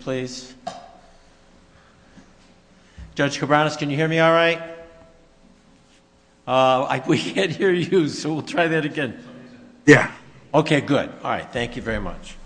please. Judge Cabranes, can you hear me all right? We can't hear you, so we'll try that again. Yeah. Okay, good. All right. Thank you very much.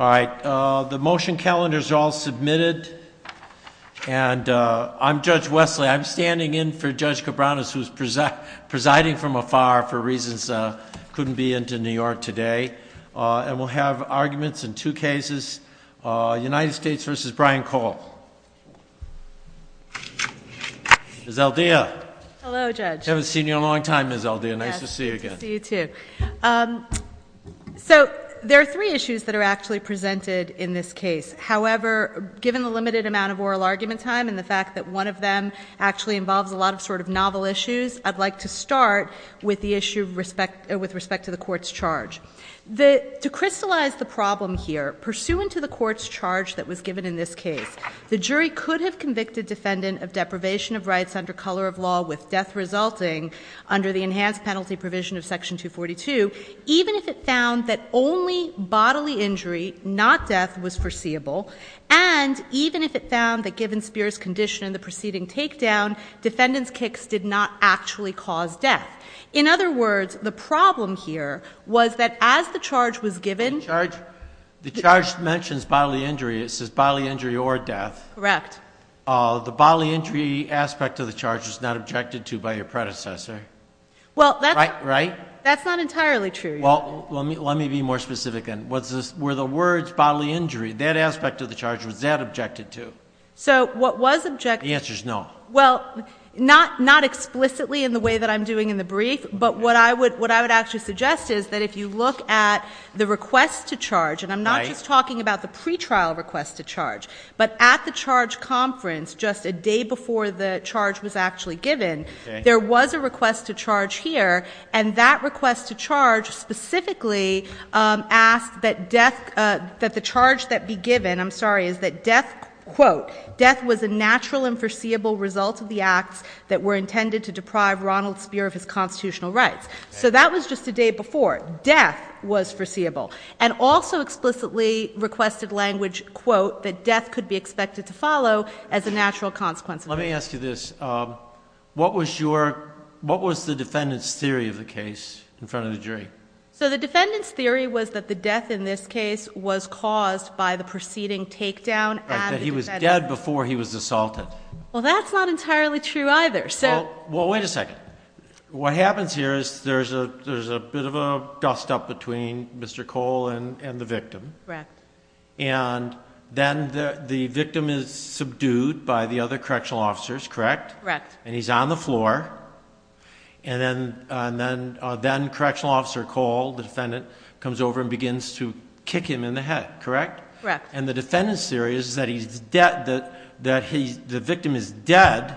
All right. The motion calendars are all submitted, and I'm Judge Wesley. I'm standing in for Judge Cabranes, who's presiding from afar for reasons I couldn't be in to New York today, and we'll have arguments in two cases, United States v. Brian Cole. Ms. Aldea. Hello, Judge. Haven't seen you in a long time, Ms. Aldea. Nice to see you again. Nice to see you, too. So there are three issues that are actually presented in this case. However, given the limited amount of oral argument time and the with the issue with respect to the court's charge. To crystallize the problem here, pursuant to the court's charge that was given in this case, the jury could have convicted defendant of deprivation of rights under color of law with death resulting under the enhanced penalty provision of Section 242, even if it found that only bodily injury, not death, was foreseeable, and even if it found that given Spear's condition in the preceding takedown, defendant's kicks did not actually cause death. In other words, the problem here was that as the charge was given. The charge mentions bodily injury. It says bodily injury or death. Correct. The bodily injury aspect of the charge was not objected to by your predecessor. Well, that's not entirely true. Well, let me be more specific. Were the words bodily injury, that aspect of the charge, was that objected to? So what was objected. The answer is no. Well, not explicitly in the way that I'm doing in the brief, but what I would actually suggest is that if you look at the request to charge, and I'm not just talking about the pretrial request to charge, but at the charge conference just a day before the charge was actually given, there was a request to charge here, and that request to charge specifically asked that the charge that be given, I'm sorry, is that death, quote, death was a natural and foreseeable result of the acts that were intended to deprive Ronald Spear of his constitutional rights. So that was just a day before. Death was foreseeable. And also explicitly requested language, quote, that death could be expected to follow as a natural consequence. Let me ask you this. What was the defendant's theory of the case in front of the jury? So the defendant's theory was that the death in this case was caused by the proceeding takedown and that he was dead before he was assaulted. Well, that's not entirely true either. So, well, wait a second. What happens here is there's a bit of a dust up between Mr. Cole and the victim. And then the victim is subdued by the other correctional officers, correct? And he's on the floor. And then correctional officer Cole, the defendant, comes over and begins to kick him in the head, correct? Correct. And the defendant's theory is that the victim is dead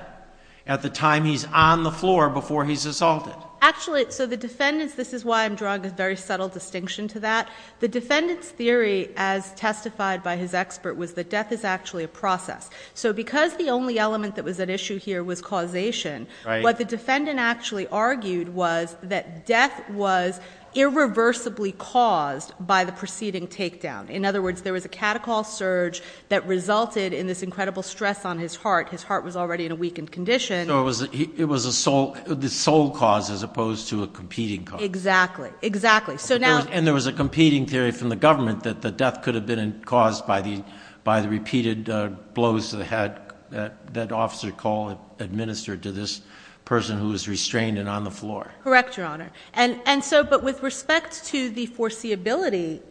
at the time he's on the floor before he's assaulted. Actually, so the defendant's, this is why I'm drawing a very subtle distinction to that, the defendant's theory as testified by his expert was that death is actually a process. So because the only element that was at issue here was causation, what the defendant actually argued was that death was irreversibly caused by the preceding takedown. In other words, there was a catechol surge that resulted in this incredible stress on his heart. His heart was already in a weakened condition. So it was the sole cause as opposed to a competing cause. Exactly. Exactly. And there was a competing theory from the government that the death could have been caused by the, by the repeated blows to the head that officer Cole administered to this person who was restrained and on the floor. Correct, Your Honor. And so, but with respect to the foreseeability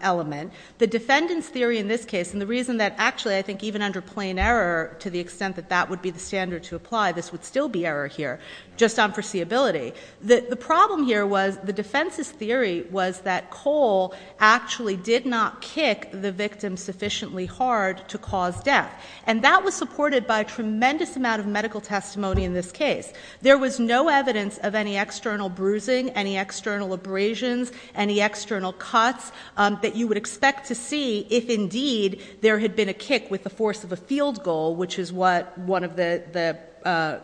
element, the defendant's theory in this case, and the reason that actually I think even under plain error, to the extent that that would be the standard to apply, this would still be error here, just on foreseeability. The problem here was the defense's theory was that Cole actually did not kick the victim sufficiently hard to cause death. And that was supported by a tremendous amount of medical testimony in this case. There was no evidence of any external bruising, any external abrasions, any external cuts that you would expect to see if indeed there had been a kick with the force of a field goal, which is what one of the, the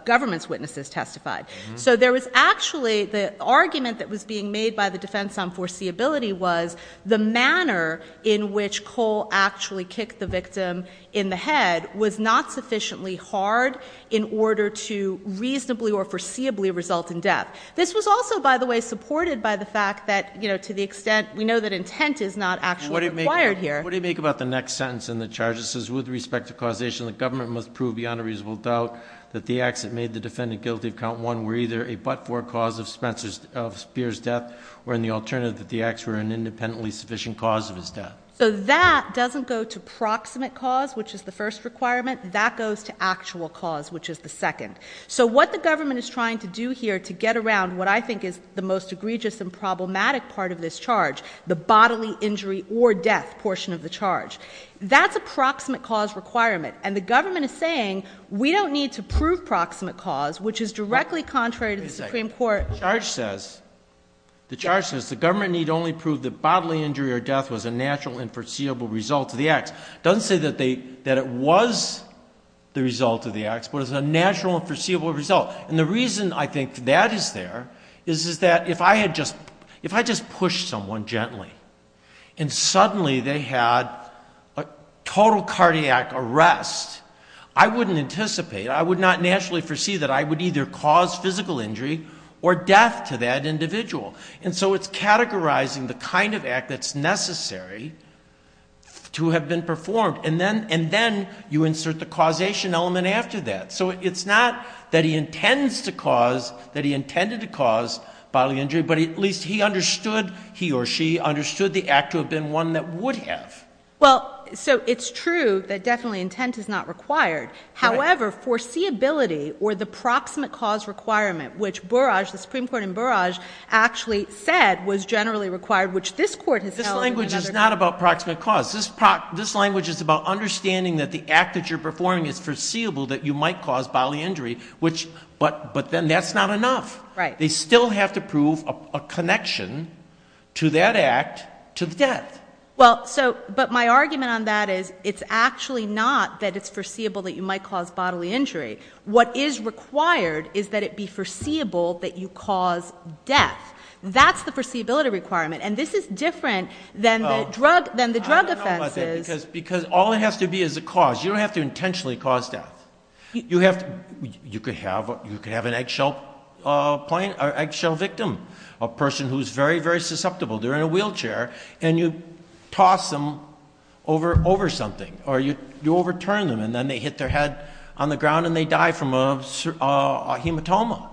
government's witnesses testified. So there was actually, the argument that was being made by the defense on foreseeability was the manner in which Cole actually kicked the victim in the head was not sufficiently hard in order to reasonably or foreseeably result in death. This was also, by the way, supported by the fact that, you know, to the extent we know that intent is not actually required here. What do you make about the next sentence in the charges? It says, with respect to causation, the government must prove beyond a reasonable doubt that the acts that made the defendant guilty of count one were either a but-for cause of Spencer's, of Speer's death, or in the alternative, that the acts were an independently sufficient cause of his death. So that doesn't go to proximate cause, which is the first requirement. That goes to actual cause, which is the second. So what the government is trying to do here to get around what I think is the most egregious and problematic part of this charge, the bodily injury or death portion of the charge, that's a proximate cause requirement. And the government is saying, we don't need to prove proximate cause, which is directly contrary to the Supreme Court. The charge says, the government need only prove that bodily injury or death was a natural and foreseeable result of the acts. Doesn't say that it was the result of the acts, but it's a natural and foreseeable result. And the reason I think that is there is that if I had just pushed someone gently and suddenly they had a total cardiac arrest, I wouldn't anticipate, I would not anticipate the cause of bodily injury or death to that individual. And so it's categorizing the kind of act that's necessary to have been performed. And then you insert the causation element after that. So it's not that he intends to cause, that he intended to cause bodily injury, but at least he understood, he or she understood the act to have been one that would have. Well, so it's true that definitely intent is not required. However, foreseeability or the Supreme Court in Barrage actually said was generally required, which this court has held. This language is not about proximate cause. This language is about understanding that the act that you're performing is foreseeable, that you might cause bodily injury, which, but then that's not enough. They still have to prove a connection to that act to the death. Well, so, but my argument on that is it's actually not that it's foreseeable that you might cause death. That's the foreseeability requirement. And this is different than the drug, than the drug offenses. Because all it has to be is a cause. You don't have to intentionally cause death. You have to, you could have, you could have an eggshell, a plane or eggshell victim, a person who's very, very susceptible. They're in a wheelchair and you toss them over, over something, or you overturn them. And then they hit their head on the ground and they die from a hematoma.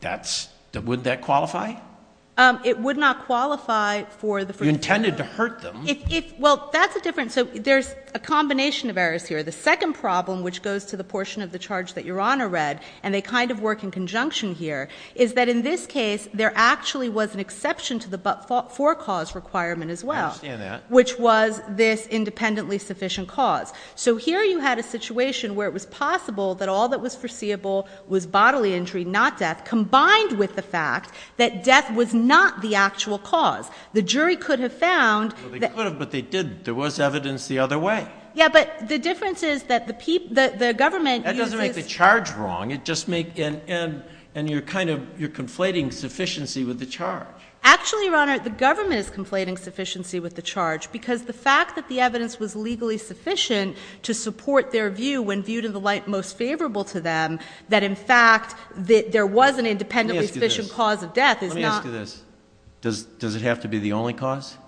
That's, would that qualify? It would not qualify for the... You intended to hurt them. Well, that's a different, so there's a combination of errors here. The second problem, which goes to the portion of the charge that Your Honor read, and they kind of work in conjunction here, is that in this case, there actually was an exception to the forecause requirement as well. I understand that. Which was this independently sufficient cause. So here you had a situation where it was possible that all that was foreseeable was bodily injury, not death, combined with the fact that death was not the actual cause. The jury could have found... Well, they could have, but they didn't. There was evidence the other way. Yeah, but the difference is that the government uses... That doesn't make the charge wrong. It just makes, and you're kind of, you're conflating sufficiency with the charge. Actually, Your Honor, the government is conflating sufficiency with the charge because the fact that the evidence was legally sufficient to support their view when viewed in the light most favorable to them, that in fact there was an independently sufficient cause of death is not... Let me ask you this. Does it have to be the only cause?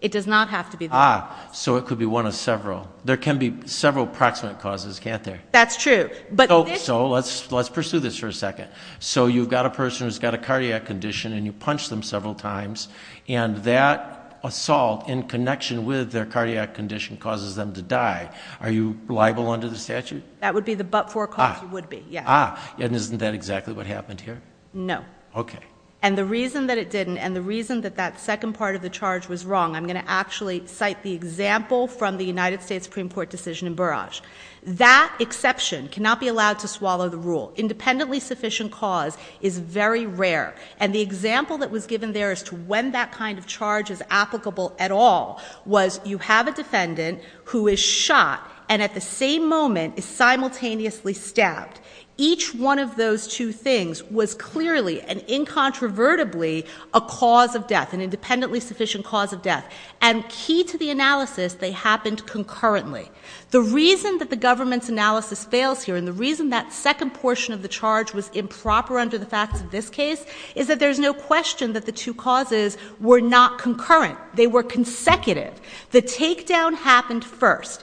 It does not have to be the only cause. Ah, so it could be one of several. There can be several proximate causes, can't there? That's true, but this... So let's pursue this for a second. So you've got a person who's got a cardiac condition, and you punch them several times, and that assault in connection with their cardiac condition causes them to die. Are you liable under the statute? That would be the but-for cause you would be, yeah. Ah, and isn't that exactly what happened here? No. Okay. And the reason that it didn't, and the reason that that second part of the charge was wrong, I'm going to actually cite the example from the United States Supreme Court decision in Barrage. That exception cannot be allowed to swallow the rule. Independently sufficient cause is very rare, and the example that was given there as to when that kind of charge is applicable at all was, you have a defendant who is shot and at the same moment is simultaneously stabbed. Each one of those two things was clearly and incontrovertibly a cause of death, an independently sufficient cause of death. And key to the analysis, they happened concurrently. The reason that the government's analysis fails here, and the reason that second portion of the charge was improper under the facts of this case, is that there's no question that the two causes were not concurrent. They were consecutive. The takedown happened first.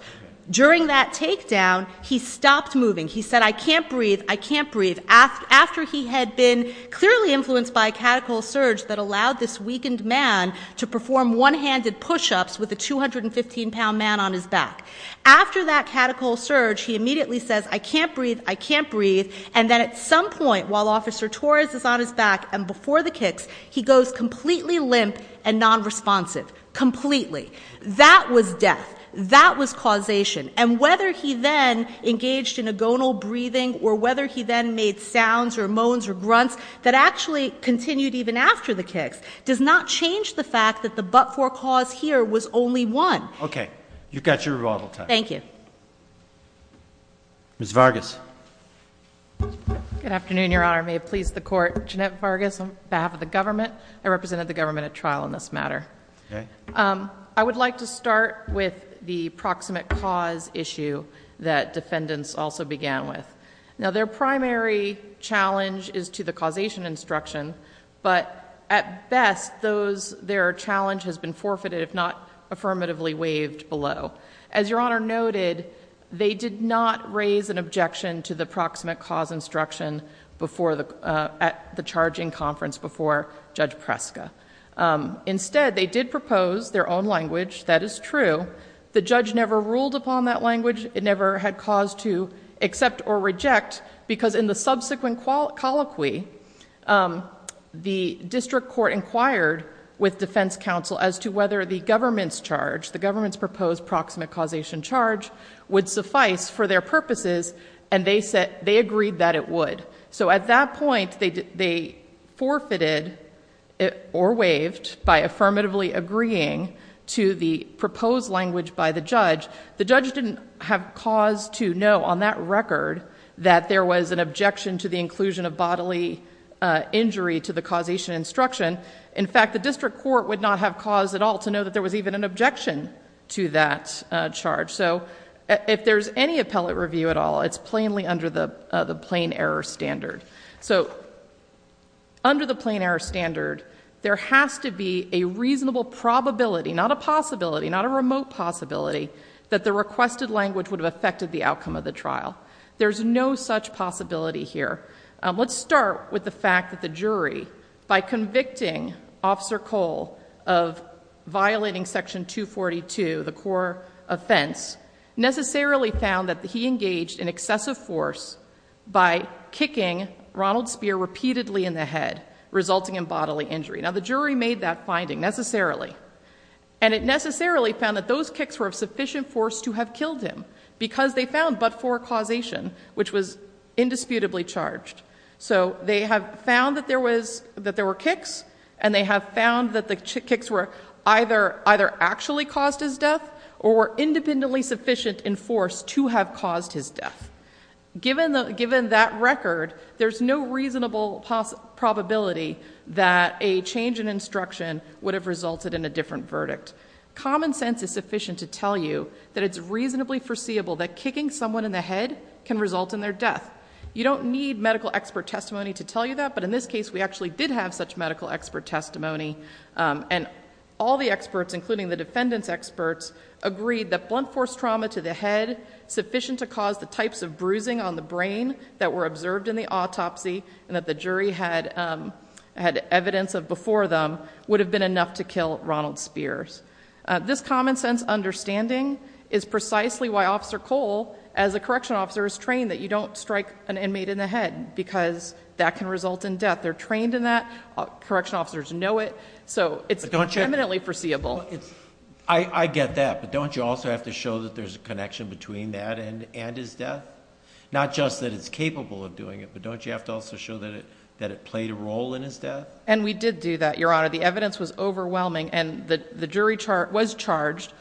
During that takedown, he stopped moving. He said, I can't breathe, I can't breathe, after he had been clearly influenced by a catechol surge that allowed this weakened man to perform one-handed pushups with a 215-pound man on his back. After that catechol surge, he immediately says, I can't breathe, I can't breathe, and then at some point while Officer Torres is on his back and before the kicks, he goes completely limp and non-responsive, completely. That was death. That was causation. And whether he then engaged in a gonal breathing or whether he then made sounds or moans or grunts that actually continued even after the kicks does not change the fact that the but-for cause here was only one. Okay. You've got your rebuttal time. Thank you. Ms. Vargas. Good afternoon, Your Honor. May it please the Court. Jeanette Vargas on behalf of the government. I represented the government at trial in this matter. I would like to start with the proximate cause issue that defendants also began with. Now, their primary challenge is to the causation instruction, but at best, their challenge has been forfeited if not affirmatively waived below. As Your Honor noted, they did not raise an objection to Judge Preska. Instead, they did propose their own language. That is true. The judge never ruled upon that language. It never had cause to accept or reject because in the subsequent colloquy, the district court inquired with defense counsel as to whether the government's charge, the government's proposed proximate causation charge would suffice for their or waived by affirmatively agreeing to the proposed language by the judge. The judge didn't have cause to know on that record that there was an objection to the inclusion of bodily injury to the causation instruction. In fact, the district court would not have cause at all to know that there was even an objection to that charge. If there's any appellate review at all, it's plainly under the plain error standard. Under the plain error standard, there has to be a reasonable probability, not a possibility, not a remote possibility, that the requested language would have affected the outcome of the trial. There's no such possibility here. Let's start with the fact that the jury, by convicting Officer Cole of violating section 242, the core offense, necessarily found that he engaged in excessive force by kicking Ronald Speer repeatedly in the head, resulting in bodily injury. Now, the jury made that finding necessarily. It necessarily found that those kicks were of sufficient force to have killed him because they found but for causation, which was indisputably charged. So they have found that there were kicks, and they have found that the kicks were either actually caused his death or were independently sufficient in force to have caused his death. Given that record, there's no reasonable probability that a change in instruction would have resulted in a different verdict. Common sense is sufficient to tell you that it's reasonably foreseeable that kicking someone in the head can result in their death. You don't need medical expert testimony to tell you that, but in this case, we actually did have such medical expert testimony. All the experts, including the defendant's experts, agreed that blunt force trauma to the head, sufficient to cause the types of bruising on the brain that were observed in the autopsy and that the jury had evidence of before them, would have been enough to kill Ronald Speer. This common sense understanding is precisely why Officer Cole, as a correctional officer, is trained that you don't strike an inmate in the head because that can result in death. They're trained in that. Correctional officers know it, so it's eminently foreseeable. I get that, but don't you also have to show that there's a connection between that and his death? Not just that it's capable of doing it, but don't you have to also show that it played a role in his death? And we did do that, Your Honor. The evidence was overwhelming, and the jury was charged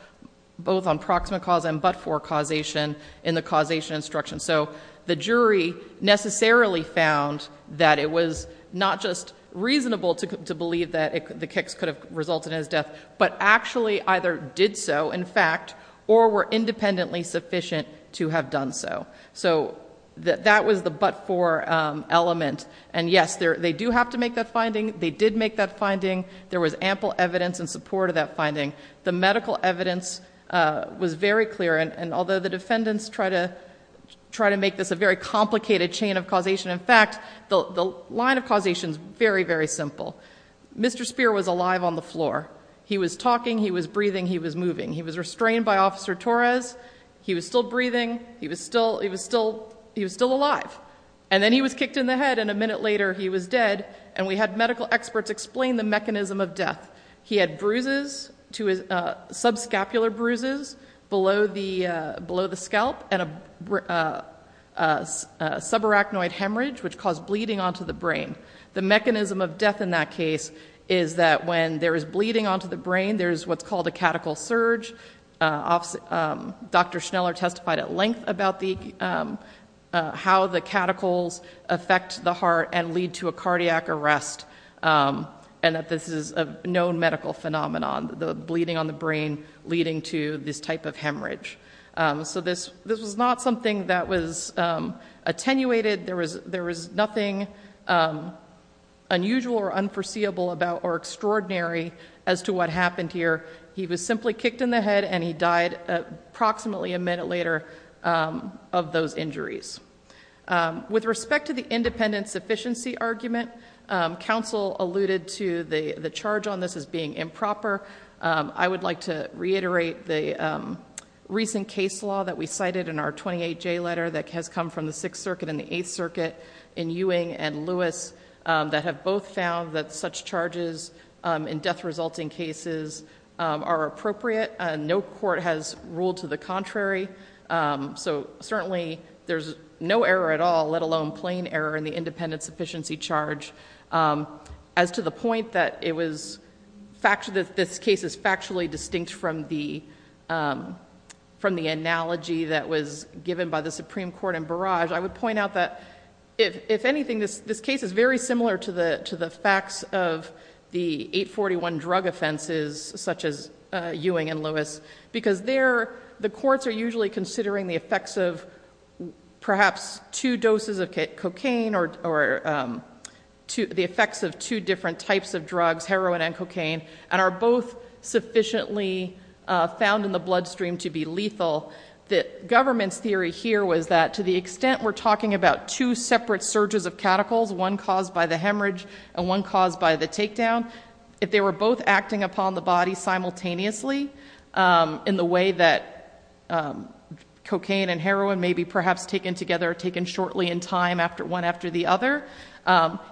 both on proximate cause and but-for causation in the causation instruction. So the jury necessarily found that it was not just reasonable to believe that the kicks could have resulted in his death, but actually either did so, in fact, or were independently sufficient to have done so. So that was the but-for element. And yes, they do have to make that finding. They did make that finding. There was ample evidence in support of that finding. The medical evidence was very clear, and although the defendants try to make this a very complicated chain of causation, in fact, the line of causation is very, very simple. Mr. Spear was alive on the floor. He was talking. He was breathing. He was moving. He was restrained by Officer Torres. He was still breathing. He was still alive. And then he was kicked in the head, and a minute he was dead, and we had medical experts explain the mechanism of death. He had subscapular bruises below the scalp and a subarachnoid hemorrhage, which caused bleeding onto the brain. The mechanism of death in that case is that when there is bleeding onto the brain, there's what's called a catechal surge. Dr. Schneller testified at length about how the catechals affect the heart and lead to a cardiac arrest, and that this is a known medical phenomenon, the bleeding on the brain leading to this type of hemorrhage. So this was not something that was attenuated. There was nothing unusual or unforeseeable about or extraordinary as to what happened here. He was simply kicked in the head, and he died approximately a minute later of those injuries. With respect to the independent sufficiency argument, counsel alluded to the charge on this as being improper. I would like to reiterate the recent case law that we cited in our 28J letter that has come from the Sixth Circuit and the Eighth Circuit in Ewing and Lewis that have both found that such charges in death-resulting cases are appropriate. No court has ruled to the contrary. Certainly, there's no error at all, let alone plain error in the independent sufficiency charge. As to the point that this case is factually distinct from the analogy that was given by the Supreme Court in Barrage, I would point out that, if anything, this case is very similar to the facts of the 841 drug offenses such as because there, the courts are usually considering the effects of perhaps two doses of cocaine or the effects of two different types of drugs, heroin and cocaine, and are both sufficiently found in the bloodstream to be lethal. The government's theory here was that, to the extent we're talking about two separate surges of cataclysm, one caused by the hemorrhage and one in the way that cocaine and heroin may be perhaps taken together, taken shortly in time after one after the other.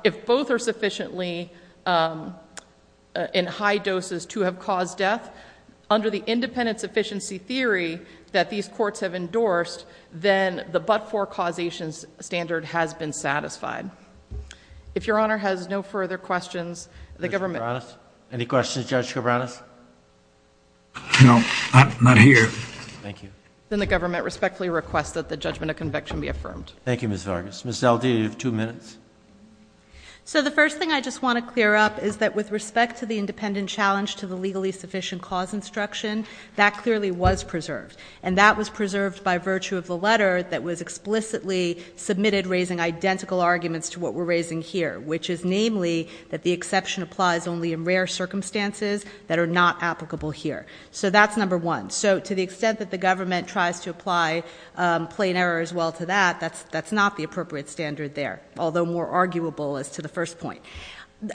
If both are sufficiently in high doses to have caused death, under the independent sufficiency theory that these courts have endorsed, then the but-for causation standard has been satisfied. If Your Honor I'm not here. Thank you. Then the government respectfully requests that the judgment of conviction be affirmed. Thank you, Ms. Vargas. Ms. Zeldin, you have two minutes. So the first thing I just want to clear up is that with respect to the independent challenge to the legally sufficient cause instruction, that clearly was preserved, and that was preserved by virtue of the letter that was explicitly submitted raising identical arguments to what we're raising here, which is namely that the exception applies only in rare circumstances that are not applicable here. So that's number one. So to the extent that the government tries to apply plain error as well to that, that's not the appropriate standard there, although more arguable as to the first point.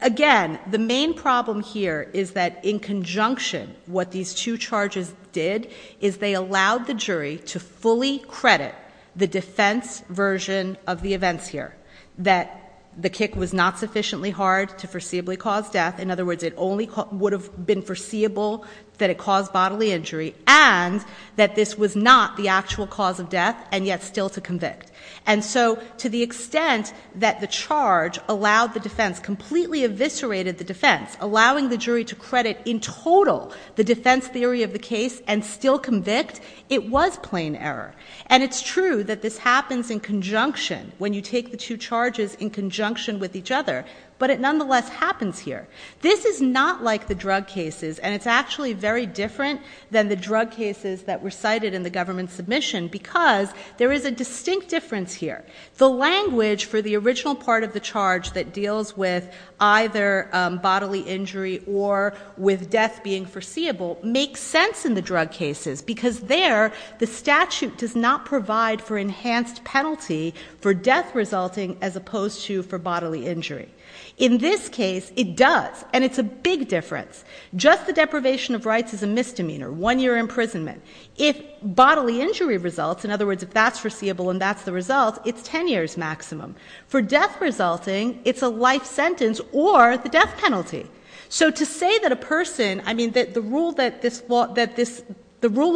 Again, the main problem here is that in conjunction what these two charges did is they allowed the jury to fully credit the defense version of the events here, that the kick was not sufficiently hard to foreseeably cause death. In other words, it only would have been foreseeable that it caused bodily injury and that this was not the actual cause of death and yet still to convict. And so to the extent that the charge allowed the defense, completely eviscerated the defense, allowing the jury to credit in total the defense theory of the case and still convict, it was plain error. And it's true that this happens in conjunction when you take the two charges in conjunction with each other, but it nonetheless happens here. This is not like the drug cases and it's actually very different than the drug cases that were cited in the government submission because there is a distinct difference here. The language for the original part of the charge that deals with either bodily injury or with death being foreseeable makes sense in the drug cases because there the statute does not provide for enhanced penalty for death resulting as opposed to for bodily injury. In this case, it does and it's a big difference. Just the deprivation of rights is a misdemeanor, one year imprisonment. If bodily injury results, in other words, if that's foreseeable and that's the result, it's 10 years maximum. For death resulting, it's a life sentence or the death penalty. So to say that a person, I mean that the rule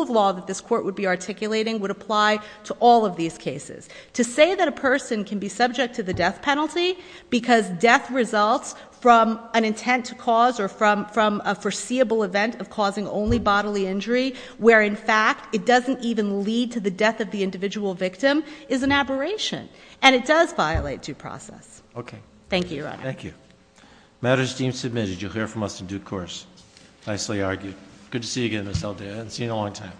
of law that this court would be articulating would apply to all of these cases. To say that a person can be subject to the death penalty because death results from an intent to cause or from a foreseeable event of causing only bodily injury where in fact it doesn't even lead to the death of the individual victim is an aberration and it does violate due process. Okay. Thank you, Your Honor. Thank you. Matters deemed submitted, you'll hear from us in due course. Nicely argued. Good to see you again, Ms. Aldea. I haven't seen you in a long time. Thank you.